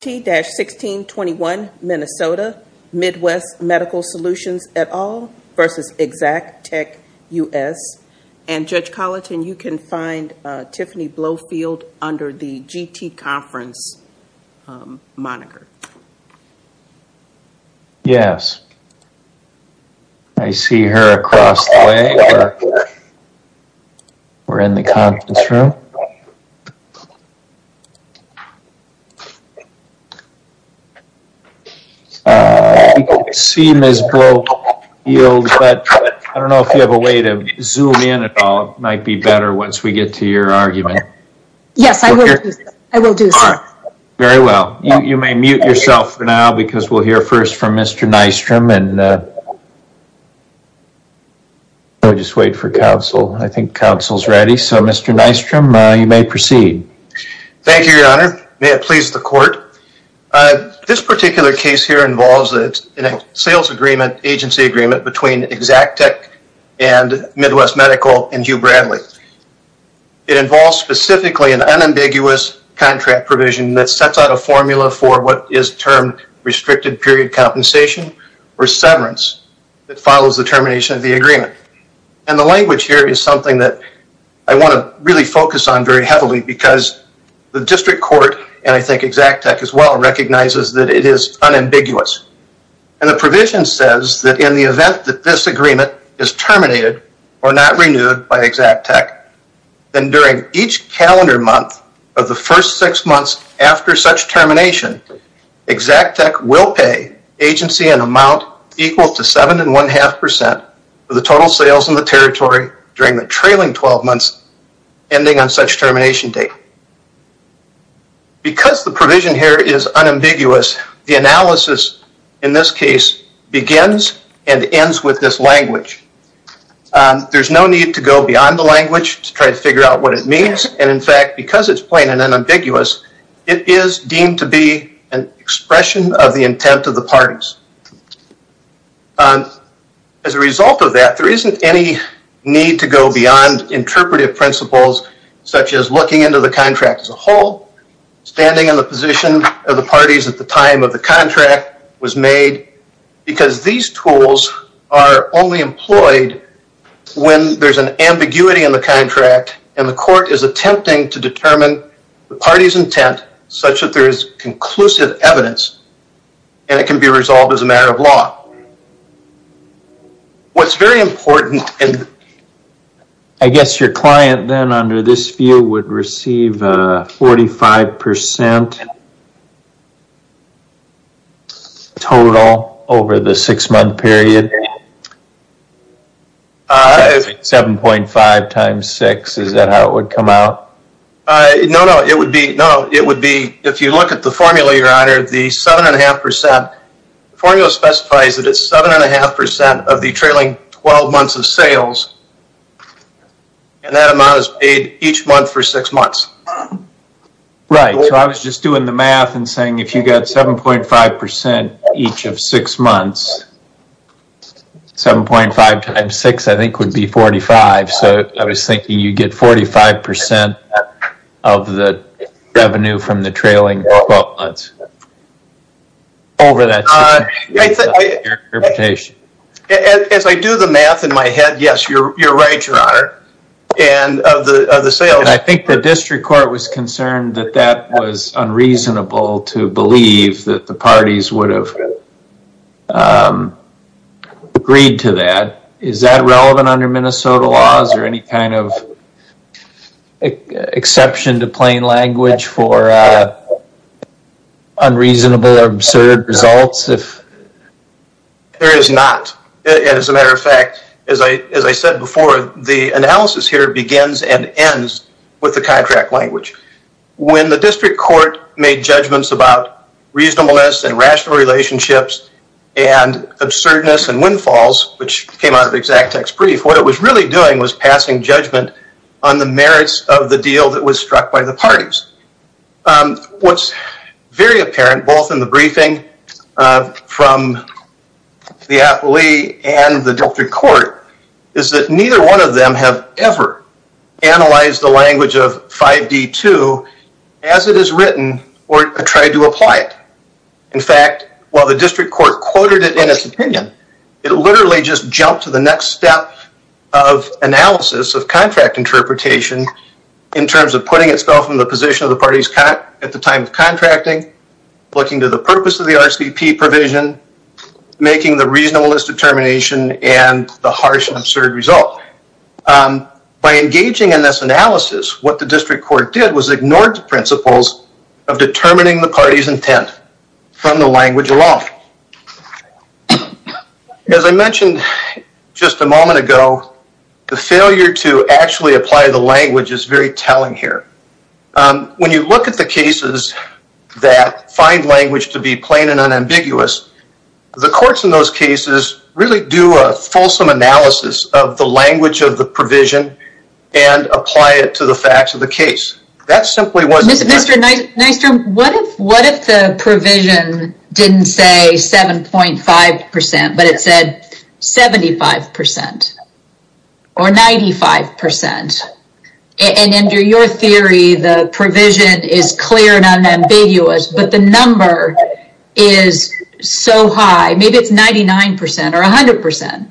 T-1621, Minnesota, Midwest Medical Solutions, et al. v. Exactech U.S. And Judge Colleton, you can find Tiffany Blofield under the GT Conference moniker. Yes. I see her across the way. We're in the conference room. You can see Ms. Blofield, but I don't know if you have a way to zoom in at all. It might be better once we get to your argument. Yes, I will do so. All right. Very well. You may mute yourself for now because we'll hear first from Mr. Nystrom and we'll just wait for counsel. I think counsel's ready. So, Mr. Nystrom, you may proceed. Thank you, Your Honor. May it please the court. This particular case here involves a sales agreement, agency agreement, between Exactech and Midwest Medical and Hugh Bradley. It involves specifically an unambiguous contract provision that sets out a formula for what is termed restricted period compensation or severance that follows the termination of the agreement. And the language here is something that I want to really focus on very heavily because the district court, and I think Exactech as well, recognizes that it is unambiguous. And the provision says that in the event that this agreement is terminated or not renewed by Exactech, then during each calendar month of the first six months after such termination, Exactech will pay agency an amount equal to 7.5% of the total sales in the territory during the trailing 12 months ending on such termination date. Because the provision here is unambiguous, the analysis in this case begins and ends with this language. There's no need to go beyond the language to try to figure out what it means. And in fact, because it's plain and unambiguous, it is deemed to be an expression of the intent of the parties. As a result of that, there isn't any need to go beyond interpretive principles such as looking into the contract as a whole, standing on the position of the parties at the time of the contract was made because these tools are only employed when there's an ambiguity in the contract and the court is attempting to determine the party's intent such that there is conclusive evidence and it can be resolved as a matter of law. What's very important and I guess your client then under this view would receive a 45% total over the six month period. 7.5 times six, is that how it would come out? No, no, it would be if you look at the formula, your honor, the 7.5% formula specifies that it's 7.5% of the trailing 12 months of sales. And that amount is paid each month for six months. Right, so I was just doing the math and saying if you got 7.5% each of six months, 7.5 times six I think would be 45. So I was thinking you get 45% of the revenue from the trailing 12 months. As I do the math in my head, yes, you're right, your honor. And I think the district court was concerned that that was unreasonable to believe that the parties would have agreed to that. Is that relevant under Minnesota laws or any kind of exception to plain language for unreasonable or absurd results? There is not. As a matter of fact, as I said before, the analysis here begins and ends with the contract language. When the district court made judgments about reasonableness and rational relationships and absurdness and windfalls, which came out of the exact text brief, what it was really doing was passing judgment on the merits of the deal that was struck by the parties. What's very apparent, both in the briefing from the appellee and the district court, is that neither one of them have ever analyzed the language of 5D2 as it is written or tried to apply it. In fact, while the district court quoted it in its opinion, it literally just jumped to the next step of analysis of contract interpretation in terms of putting itself in the position of the parties at the time of contracting, looking to the purpose of the RCP provision, making the reasonableness determination and the harsh and absurd result. By engaging in this analysis, what the district court did was ignore the principles of determining the party's intent from the language alone. As I mentioned just a moment ago, the failure to actually apply the language is very telling here. When you look at the cases that find language to be plain and unambiguous, the courts in those cases really do a fulsome analysis of the language of the provision and apply it to the facts of the case. Mr. Nystrom, what if the provision didn't say 7.5%, but it said 75% or 95%? And under your theory, the provision is clear and unambiguous, but the number is so high, maybe it's 99% or 100%.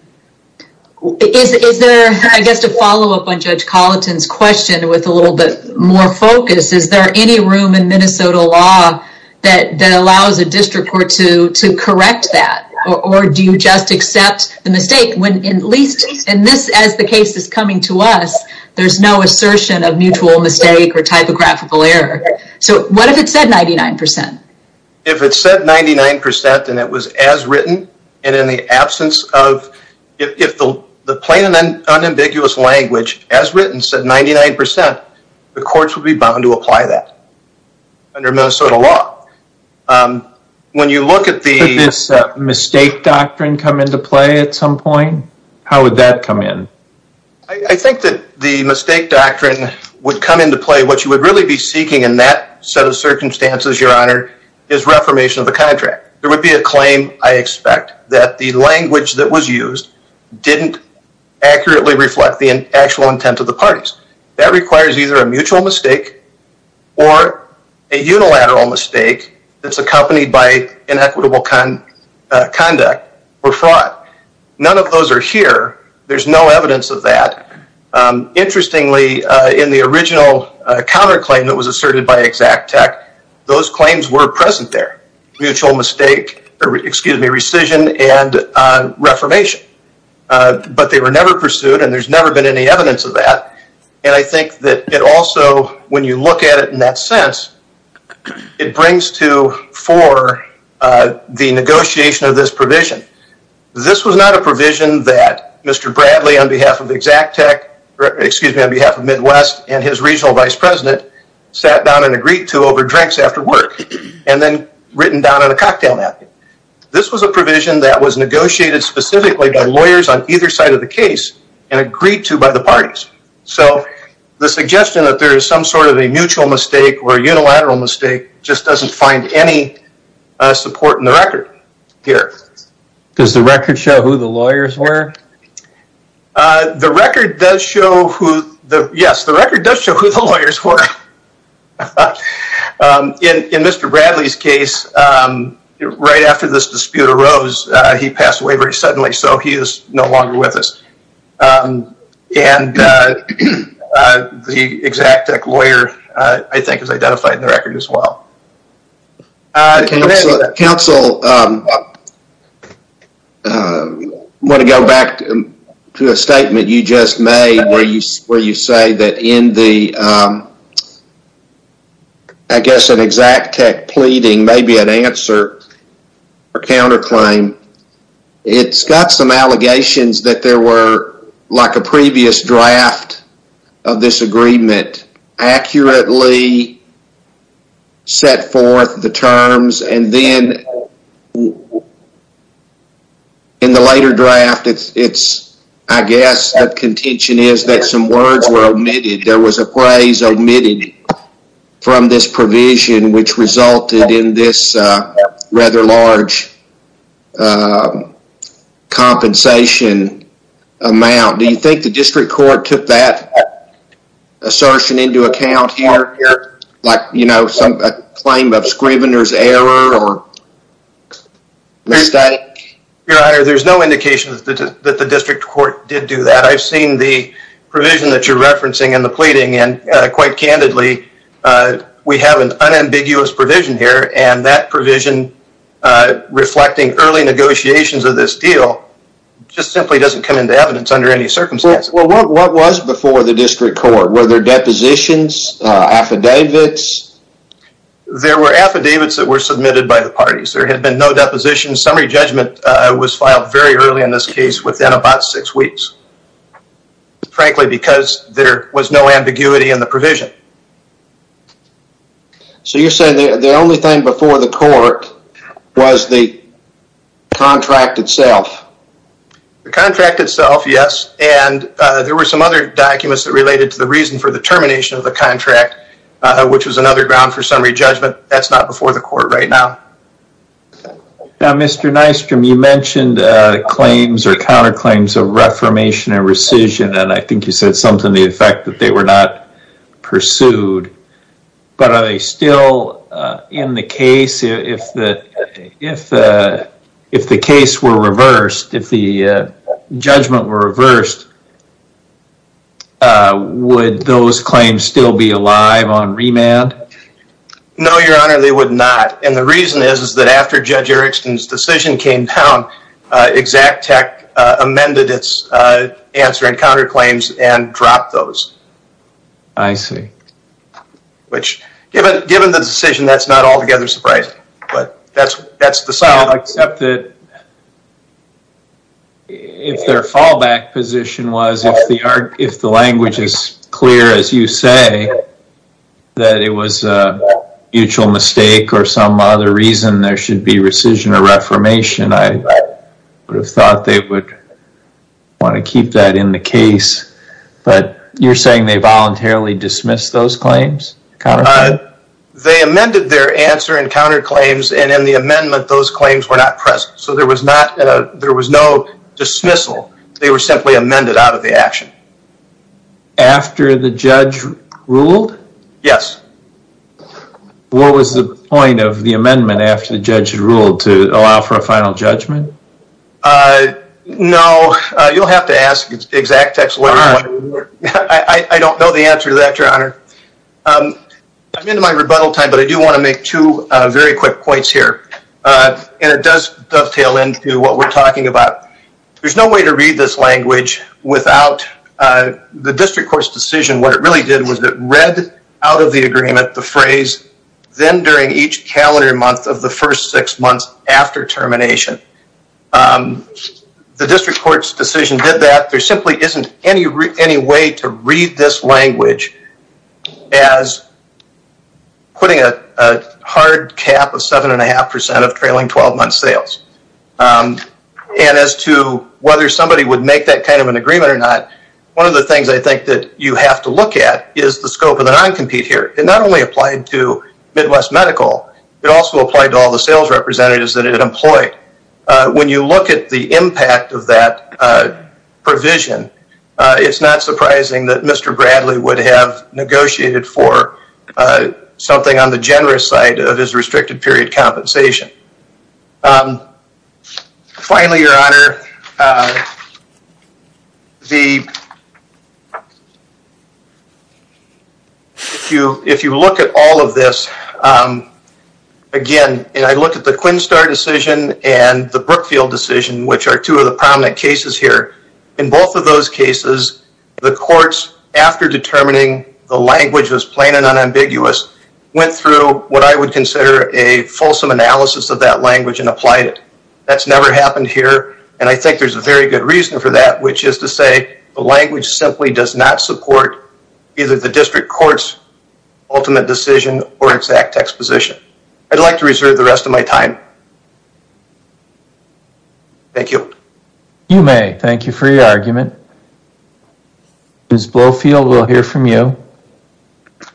Is there, I guess, a follow-up on Judge Colleton's question with a little bit more focus? Is there any room in Minnesota law that allows a district court to correct that? Or do you just accept the mistake when at least in this, as the case is coming to us, there's no assertion of mutual mistake or typographical error. So what if it said 99%? If it said 99% and it was as written, and in the absence of, if the plain and unambiguous language as written said 99%, the courts would be bound to apply that under Minnesota law. When you look at the... Could this mistake doctrine come into play at some point? How would that come in? I think that the mistake doctrine would come into play. What you would really be seeking in that set of circumstances, Your Honor, is reformation of the contract. There would be a claim, I expect, that the language that was used didn't accurately reflect the actual intent of the parties. That requires either a mutual mistake or a unilateral mistake that's accompanied by inequitable conduct or fraud. None of those are here. There's no evidence of that. Interestingly, in the original counterclaim that was asserted by Exact Tech, those claims were present there. Mutual mistake, excuse me, rescission and reformation. But they were never pursued and there's never been any evidence of that. And I think that it also, when you look at it in that sense, it brings to fore the negotiation of this provision. This was not a provision that Mr. Bradley, on behalf of Exact Tech, excuse me, on behalf of Midwest and his regional vice president, sat down and agreed to over drinks after work and then written down in a cocktail napkin. This was a provision that was negotiated specifically by lawyers on either side of the case and agreed to by the parties. So the suggestion that there is some sort of a mutual mistake or unilateral mistake just doesn't find any support in the record here. Does the record show who the lawyers were? The record does show who the, yes, the record does show who the lawyers were. In Mr. Bradley's case, right after this dispute arose, he passed away very suddenly, so he is no longer with us. And the Exact Tech lawyer, I think, is identified in the record as well. Counsel, I want to go back to a statement you just made where you say that in the, I guess, an Exact Tech pleading, maybe an answer or counterclaim, it's got some allegations that there were, like a previous draft of this agreement, accurately set forth the terms and then in the later draft, it's, I guess, that contention is that some words were omitted. There was a phrase omitted from this provision which resulted in this rather large compensation amount. Do you think the district court took that assertion into account here? Like, you know, some claim of Scrivener's error or mistake? Your Honor, there's no indication that the district court did do that. I've seen the provision that you're referencing in the pleading and quite candidly, we have an unambiguous provision here and that provision reflecting early negotiations of this deal just simply doesn't come into evidence under any circumstance. Well, what was before the district court? Were there depositions, affidavits? There were affidavits that were submitted by the parties. There had been no depositions. Summary judgment was filed very early in this case, within about six weeks. Frankly, because there was no ambiguity in the provision. So you're saying the only thing before the court was the contract itself? The contract itself, yes, and there were some other documents that related to the reason for the termination of the contract, which was another ground for summary judgment. That's not before the court right now. Now, Mr. Nystrom, you mentioned claims or counterclaims of reformation and rescission, and I think you said something to the effect that they were not pursued. But are they still in the case? If the case were reversed, if the judgment were reversed, would those claims still be alive on remand? No, Your Honor, they would not. And the reason is that after Judge Erickson's decision came down, Exact Tech amended its answer and counterclaims and dropped those. I see. Which, given the decision, that's not altogether surprising, but that's the sound. Well, except that if their fallback position was, if the language is clear, as you say, that it was a mutual mistake or some other reason there should be rescission or reformation, I would have thought they would want to keep that in the case. But you're saying they voluntarily dismissed those claims? They amended their answer and counterclaims, and in the amendment, those claims were not present. So there was no dismissal. They were simply amended out of the action. After the judge ruled? Yes. What was the point of the amendment after the judge ruled to allow for a final judgment? No, you'll have to ask Exact Tech's lawyers. I don't know the answer to that, Your Honor. I'm into my rebuttal time, but I do want to make two very quick points here, and it does dovetail into what we're talking about. There's no way to read this language without the district court's decision. What it really did was it read out of the agreement the phrase, then during each calendar month of the first six months after termination. The district court's decision did that. There simply isn't any way to read this language as putting a hard cap of 7.5% of trailing 12-month sales. And as to whether somebody would make that kind of an agreement or not, one of the things I think that you have to look at is the scope of the non-compete here. It not only applied to Midwest Medical, it also applied to all the sales representatives that it employed. When you look at the impact of that provision, it's not surprising that Mr. Bradley would have negotiated for something on the generous side of his restricted period compensation. Finally, Your Honor, if you look at all of this, again, and I look at the Quinstar decision and the Brookfield decision, which are two of the prominent cases here, in both of those cases, the courts, after determining the language was plain and unambiguous, went through what I would consider a fulsome analysis of that language and applied it. That's never happened here, and I think there's a very good reason for that, which is to say the language simply does not support either the district court's ultimate decision or exact exposition. I'd like to reserve the rest of my time. Thank you. You may. Thank you for your argument. Ms. Blofield, we'll hear from you.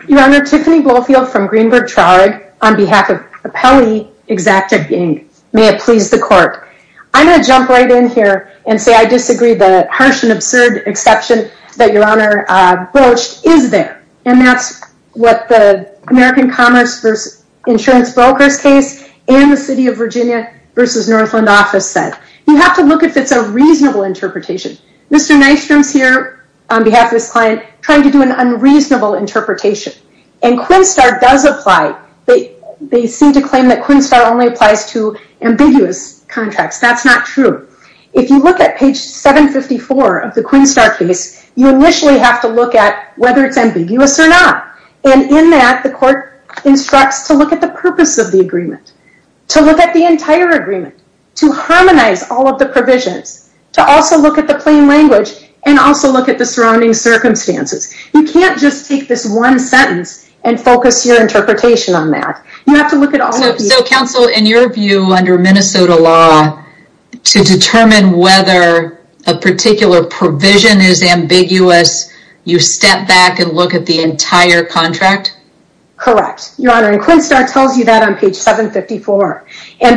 Your Honor, Tiffany Blofield from Greenberg Traurig on behalf of Appellee Exacting. May it please the court. I'm going to jump right in here and say I disagree. The harsh and absurd exception that Your Honor broached is there, and that's what the American Commerce versus Insurance Brokers case and the City of Virginia versus Northland Office said. You have to look if it's a reasonable interpretation. Mr. Nystrom's here on behalf of his client trying to do an unreasonable interpretation, and Quinnstar does apply. They seem to claim that Quinnstar only applies to ambiguous contracts. That's not true. If you look at page 754 of the Quinnstar case, you initially have to look at whether it's ambiguous or not, and in that, the court instructs to look at the purpose of the agreement, to look at the entire agreement, to harmonize all of the provisions, to also look at the plain language, and also look at the surrounding circumstances. You can't just take this one sentence and focus your interpretation on that. You have to look at all of these. So, counsel, in your view, under Minnesota law, to determine whether a particular provision is ambiguous, you step back and look at the entire contract? Correct. Your Honor, and Quinnstar tells you that on page 754. All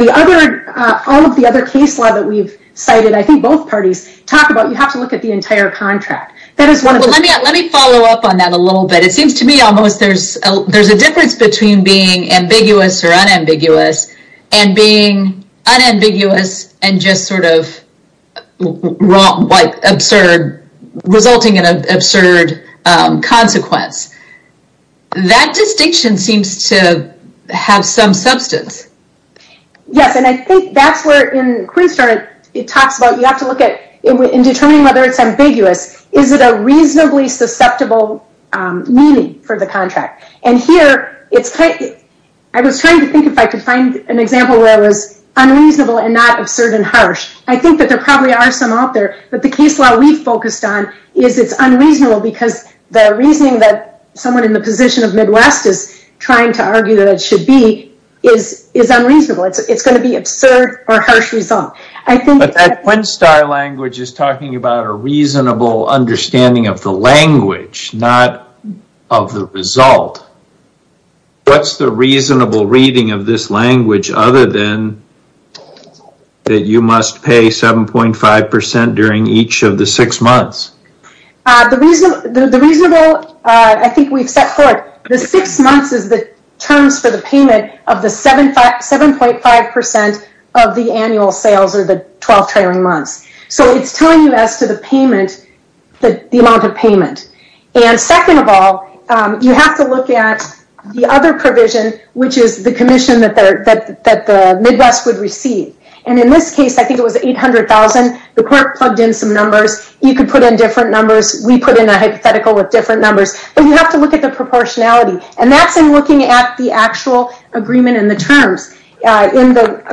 of the other case law that we've cited, I think both parties talk about, you have to look at the entire contract. Let me follow up on that a little bit. It seems to me almost there's a difference between being ambiguous or unambiguous, and being unambiguous and just sort of resulting in an absurd consequence. That distinction seems to have some substance. Yes, and I think that's where, in Quinnstar, it talks about you have to look at, in determining whether it's ambiguous, is it a reasonably susceptible meaning for the contract? And here, I was trying to think if I could find an example where it was unreasonable and not absurd and harsh. I think that there probably are some out there, but the case law we've focused on is it's unreasonable because the reasoning that someone in the position of Midwest is trying to argue that it should be is unreasonable. It's going to be absurd or harsh result. But that Quinnstar language is talking about a reasonable understanding of the language, not of the result. What's the reasonable reading of this language other than that you must pay 7.5% during each of the six months? The reasonable, I think we've set forth, the six months is the terms for the payment of the 7.5% of the annual sales or the 12 trailing months. So it's telling you as to the amount of payment. And second of all, you have to look at the other provision, which is the commission that the Midwest would receive. And in this case, I think it was $800,000. The court plugged in some numbers. You could put in different numbers. We put in a hypothetical with different numbers. But you have to look at the proportionality. And that's in looking at the actual agreement in the terms. In the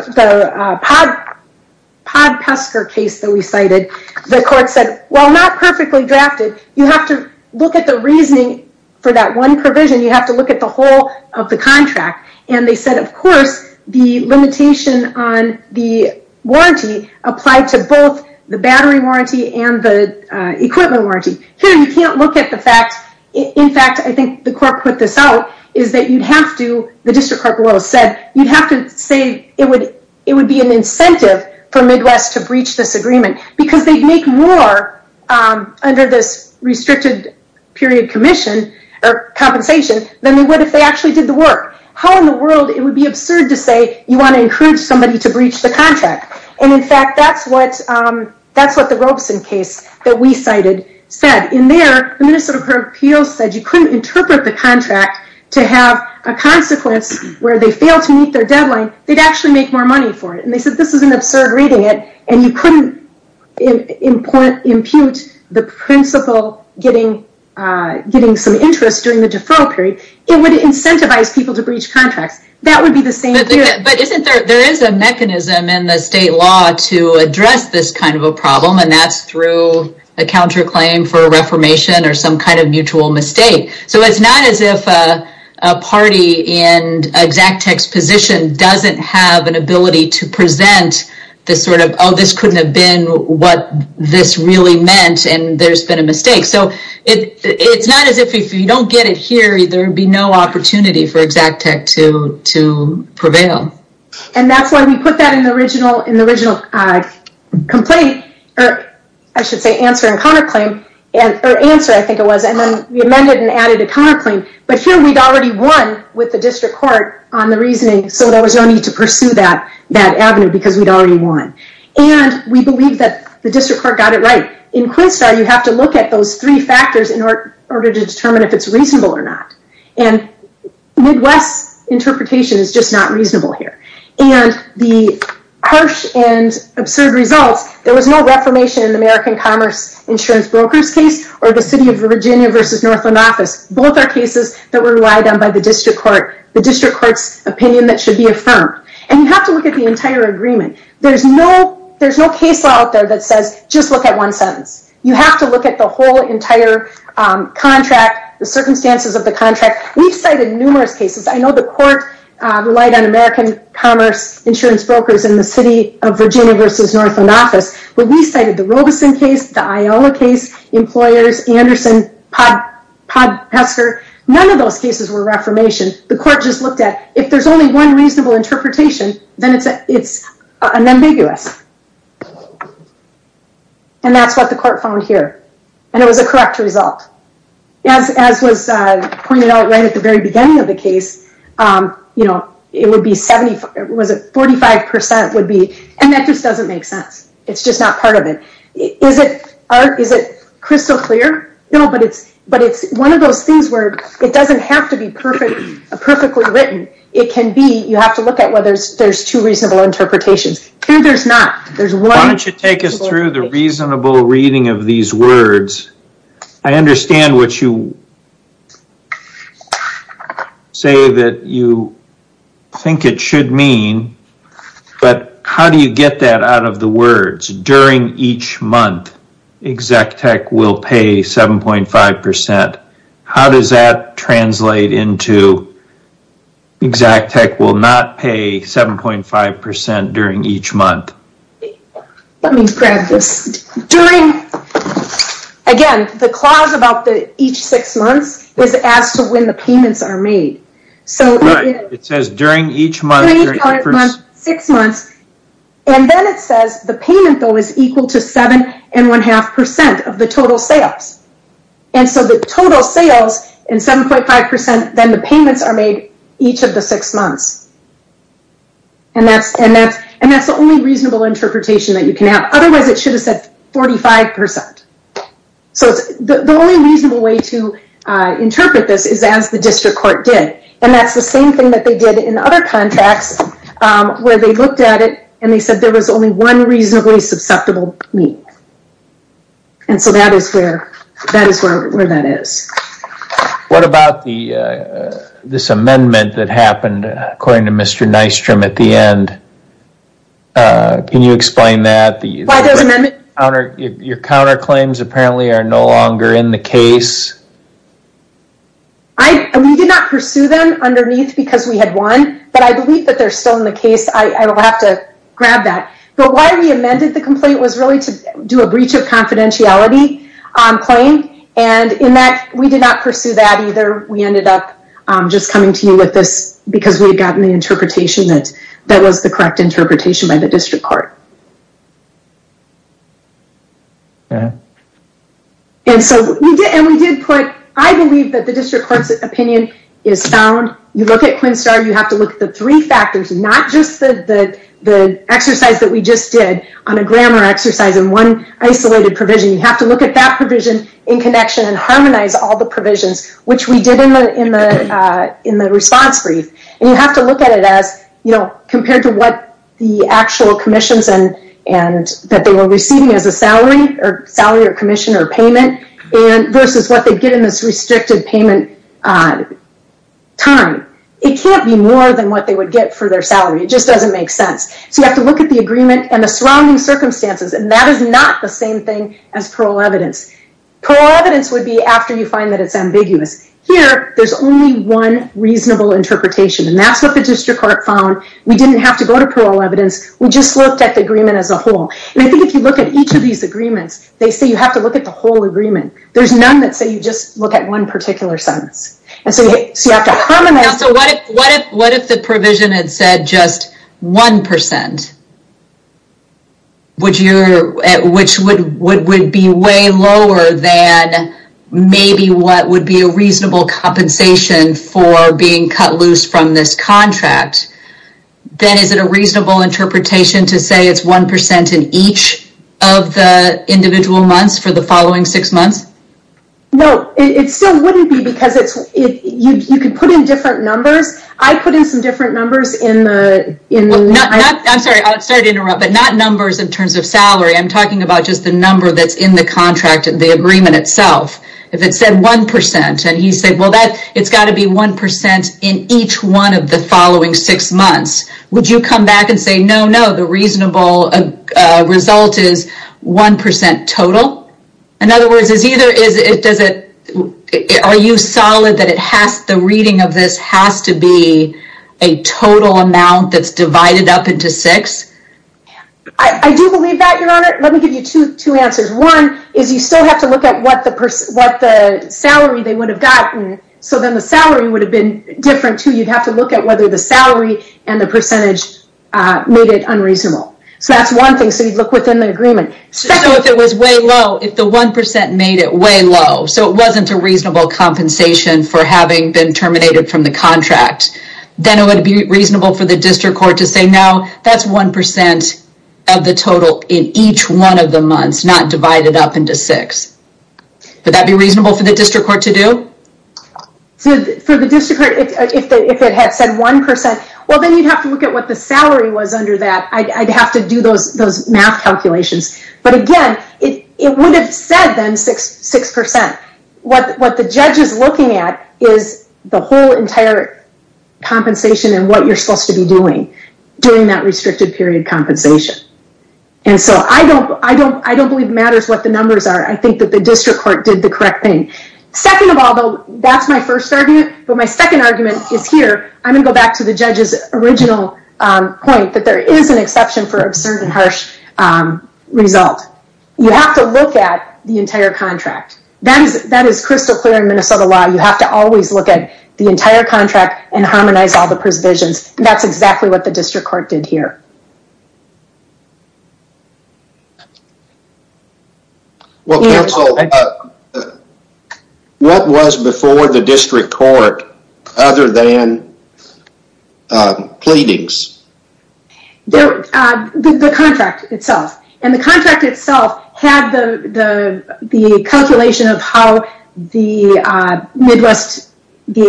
Podpesker case that we cited, the court said, well, not perfectly drafted. You have to look at the reasoning for that one provision. You have to look at the whole of the contract. And they said, of course, the limitation on the warranty applied to both the battery warranty and the equipment warranty. Here, you can't look at the fact, in fact, I think the court put this out, is that you'd have to, the district court rule said, you'd have to say it would be an incentive for Midwest to breach this agreement because they'd make more under this restricted period commission or compensation than they would if they actually did the work. How in the world, it would be absurd to say you want to encourage somebody to breach the contract. And, in fact, that's what the Robeson case that we cited said. In there, the Minnesota Court of Appeals said you couldn't interpret the contract to have a consequence where they failed to meet their deadline. They'd actually make more money for it. And they said this is an absurd reading. And you couldn't impute the principle getting some interest during the deferral period. It would incentivize people to breach contracts. That would be the same view. But isn't there, there is a mechanism in the state law to address this kind of a problem, and that's through a counterclaim for a reformation or some kind of mutual mistake. So it's not as if a party in Xactech's position doesn't have an ability to present this sort of, oh, this couldn't have been what this really meant, and there's been a mistake. So it's not as if if you don't get it here, there would be no opportunity for Xactech to prevail. And that's why we put that in the original complaint, or I should say answer and counterclaim, or answer, I think it was, and then we amended and added a counterclaim. But here we'd already won with the district court on the reasoning, so there was no need to pursue that avenue because we'd already won. And we believe that the district court got it right. In Quinnstar, you have to look at those three factors in order to determine if it's reasonable or not. And Midwest's interpretation is just not reasonable here. And the harsh and absurd results, there was no reformation in the American Commerce Insurance Brokers case, or the City of Virginia versus Northland Office. Both are cases that were relied on by the district court, the district court's opinion that should be affirmed. And you have to look at the entire agreement. There's no case law out there that says, just look at one sentence. You have to look at the whole entire contract, the circumstances of the contract. We've cited numerous cases. I know the court relied on American Commerce Insurance Brokers in the City of Virginia versus Northland Office. But we cited the Robeson case, the Iowa case, employers, Anderson, Podpester. None of those cases were reformation. The court just looked at, if there's only one reasonable interpretation, then it's unambiguous. And that's what the court found here. And it was a correct result. As was pointed out right at the very beginning of the case, you know, it would be 75, was it 45% would be, and that just doesn't make sense. It's just not part of it. Is it crystal clear? No, but it's one of those things where it doesn't have to be perfectly written. It can be, you have to look at whether there's two reasonable interpretations. Here there's not. Why don't you take us through the reasonable reading of these words. I understand what you say that you think it should mean, but how do you get that out of the words? It says, during each month, Exec Tech will pay 7.5%. How does that translate into Exec Tech will not pay 7.5% during each month? Let me grab this. During, again, the clause about the each six months is as to when the payments are made. It says during each month, six months. And then it says the payment though is equal to 7.5% of the total sales. And so the total sales in 7.5%, then the payments are made each of the six months. And that's the only reasonable interpretation that you can have. Otherwise it should have said 45%. So the only reasonable way to interpret this is as the district court did. And that's the same thing that they did in other contacts where they looked at it and they said there was only one reasonably susceptible meet. And so that is where that is. What about this amendment that happened according to Mr. Nystrom at the end? Can you explain that? Your counterclaims apparently are no longer in the case. We did not pursue them underneath because we had one. But I believe that they're still in the case. I will have to grab that. But why we amended the complaint was really to do a breach of confidentiality claim. And in that, we did not pursue that either. We ended up just coming to you with this because we had gotten the interpretation that was the correct interpretation by the district court. And we did put, I believe that the district court's opinion is found. You look at Quinn Starr, you have to look at the three factors, not just the exercise that we just did on a grammar exercise and one isolated provision. You have to look at that provision in connection and harmonize all the provisions, which we did in the response brief. And you have to look at it as compared to what the actual commissions that they were receiving as a salary or commission or payment versus what they get in this restricted payment time. It can't be more than what they would get for their salary. It just doesn't make sense. So you have to look at the agreement and the surrounding circumstances, and that is not the same thing as parole evidence. Parole evidence would be after you find that it's ambiguous. Here, there's only one reasonable interpretation, and that's what the district court found. We didn't have to go to parole evidence. We just looked at the agreement as a whole. And I think if you look at each of these agreements, they say you have to look at the whole agreement. There's none that say you just look at one particular sentence. And so you have to harmonize. What if the provision had said just 1%? Which would be way lower than maybe what would be a reasonable compensation for being cut loose from this contract. Then is it a reasonable interpretation to say it's 1% in each of the individual months for the following six months? No, it still wouldn't be because you could put in different numbers. I put in some different numbers. I'm sorry to interrupt, but not numbers in terms of salary. I'm talking about just the number that's in the contract, the agreement itself. If it said 1%, and he said, well, it's got to be 1% in each one of the following six months, would you come back and say, no, no, the reasonable result is 1% total? In other words, are you solid that the reading of this has to be a total amount that's divided up into six? I do believe that, Your Honor. Let me give you two answers. One is you still have to look at what the salary they would have gotten. So then the salary would have been different, too. You'd have to look at whether the salary and the percentage made it unreasonable. So that's one thing. So you'd look within the agreement. So if it was way low, if the 1% made it way low, so it wasn't a reasonable compensation for having been terminated from the contract, then it would be reasonable for the district court to say, no, that's 1% of the total in each one of the months, not divided up into six. Would that be reasonable for the district court to do? For the district court, if it had said 1%, well, then you'd have to look at what the salary was under that. I'd have to do those math calculations. But, again, it would have said, then, 6%. What the judge is looking at is the whole entire compensation and what you're supposed to be doing during that restricted period compensation. And so I don't believe it matters what the numbers are. I think that the district court did the correct thing. Second of all, though, that's my first argument. But my second argument is here. I'm going to go back to the judge's original point, that there is an exception for absurd and harsh result. You have to look at the entire contract. That is crystal clear in Minnesota law. You have to always look at the entire contract and harmonize all the provisions. And that's exactly what the district court did here. Well, counsel, what was before the district court other than pleadings? The contract itself. And the contract itself had the calculation of how the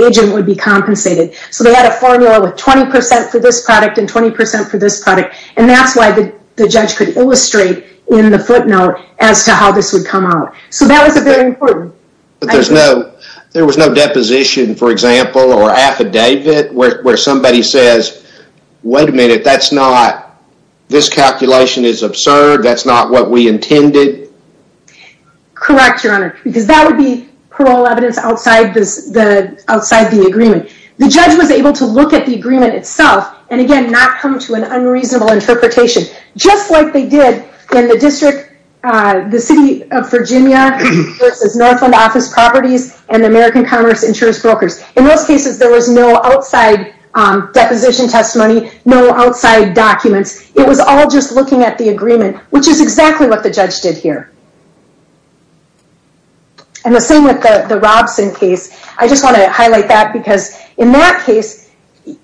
agent would be compensated. So they had a formula with 20% for this product and 20% for this product. And that's why the judge could illustrate in the footnote as to how this would come out. So that was very important. There was no deposition, for example, or affidavit where somebody says, wait a minute. That's not, this calculation is absurd. That's not what we intended. Correct, Your Honor. Because that would be parole evidence outside the agreement. The judge was able to look at the agreement itself and, again, not come to an unreasonable interpretation. Just like they did in the district, the city of Virginia versus Northland Office Properties and American Commerce Insurance Brokers. In those cases, there was no outside deposition testimony, no outside documents. It was all just looking at the agreement, which is exactly what the judge did here. And the same with the Robson case. I just want to highlight that because in that case,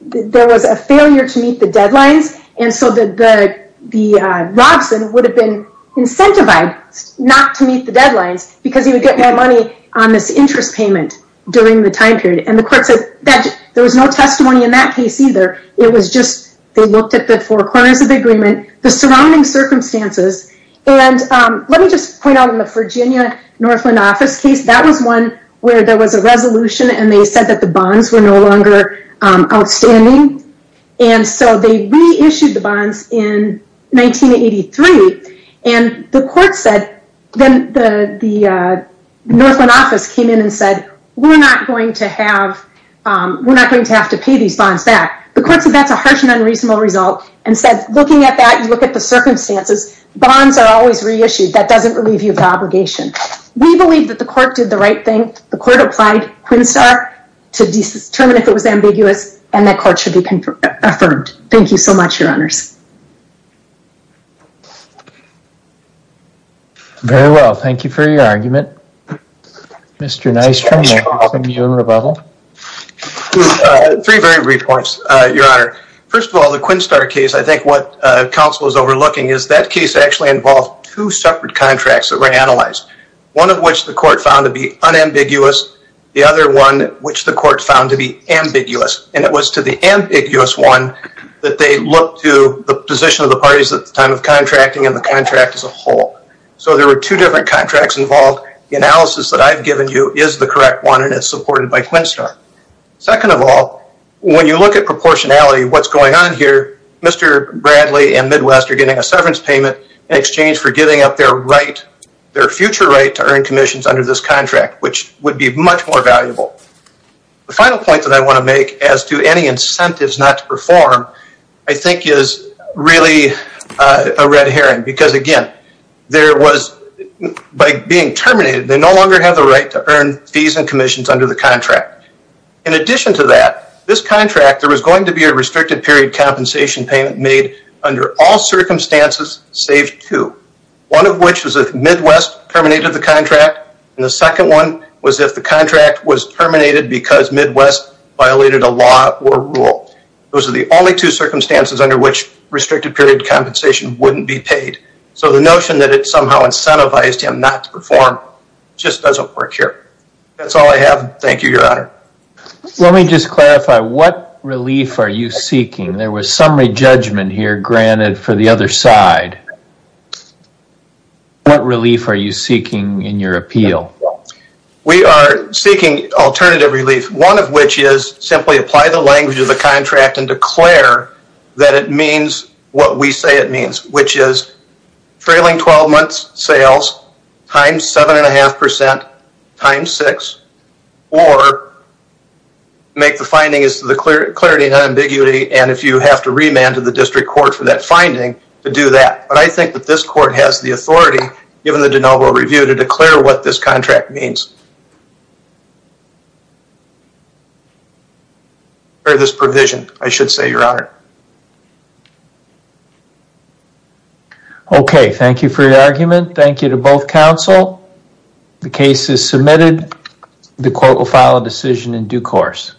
there was a failure to meet the deadlines. And so the Robson would have been incentivized not to meet the deadlines because he would get more money on this interest payment during the time period. And the court said that there was no testimony in that case either. It was just they looked at the four corners of the agreement, the surrounding circumstances. And let me just point out in the Virginia-Northland Office case, that was one where there was a resolution and they said that the bonds were no longer outstanding. And so they reissued the bonds in 1983. And the court said, then the Northland Office came in and said, we're not going to have to pay these bonds back. The court said that's a harsh and unreasonable result and said, looking at that, you look at the circumstances, bonds are always reissued. That doesn't relieve you of the obligation. We believe that the court did the right thing. The court applied Quinstar to determine if it was ambiguous and that court should be confirmed. Thank you so much, your honors. Very well. Thank you for your argument. Mr. Neistrom. Three very brief points, your honor. First of all, the Quinstar case, I think what counsel is overlooking is that case actually involved two separate contracts that were analyzed. One of which the court found to be unambiguous, the other one which the court found to be ambiguous. And it was to the ambiguous one that they looked to the position of the contracting and the contract as a whole. So there were two different contracts involved. The analysis that I've given you is the correct one and it's supported by Quinstar. Second of all, when you look at proportionality, what's going on here, Mr. Bradley and Midwest are getting a severance payment in exchange for giving up their right, their future right to earn commissions under this contract, which would be much more valuable. The final point that I want to make as to any incentives not to perform, I think is really a red herring. Because again, there was, by being terminated, they no longer have the right to earn fees and commissions under the contract. In addition to that, this contract, there was going to be a restricted period compensation payment made under all circumstances, save two. One of which was if Midwest terminated the contract. And the second one was if the contract was terminated because Midwest violated a law or rule. Those are the only two circumstances under which restricted period compensation wouldn't be paid. So the notion that it somehow incentivized him not to perform just doesn't work here. That's all I have. Thank you, Your Honor. Let me just clarify. What relief are you seeking? There was summary judgment here granted for the other side. What relief are you seeking in your appeal? We are seeking alternative relief. One of which is simply apply the language of the contract and declare that it means what we say it means, which is trailing 12 months sales times seven and a half percent times six, or make the finding as to the clarity and ambiguity and if you have to remand to the district court for that finding to do that. But I think that this court has the authority, given the de novo review, to declare what this contract means. Or this provision, I should say, Your Honor. Okay, thank you for your argument. Thank you to both counsel. The case is submitted. The court will file a decision in due course.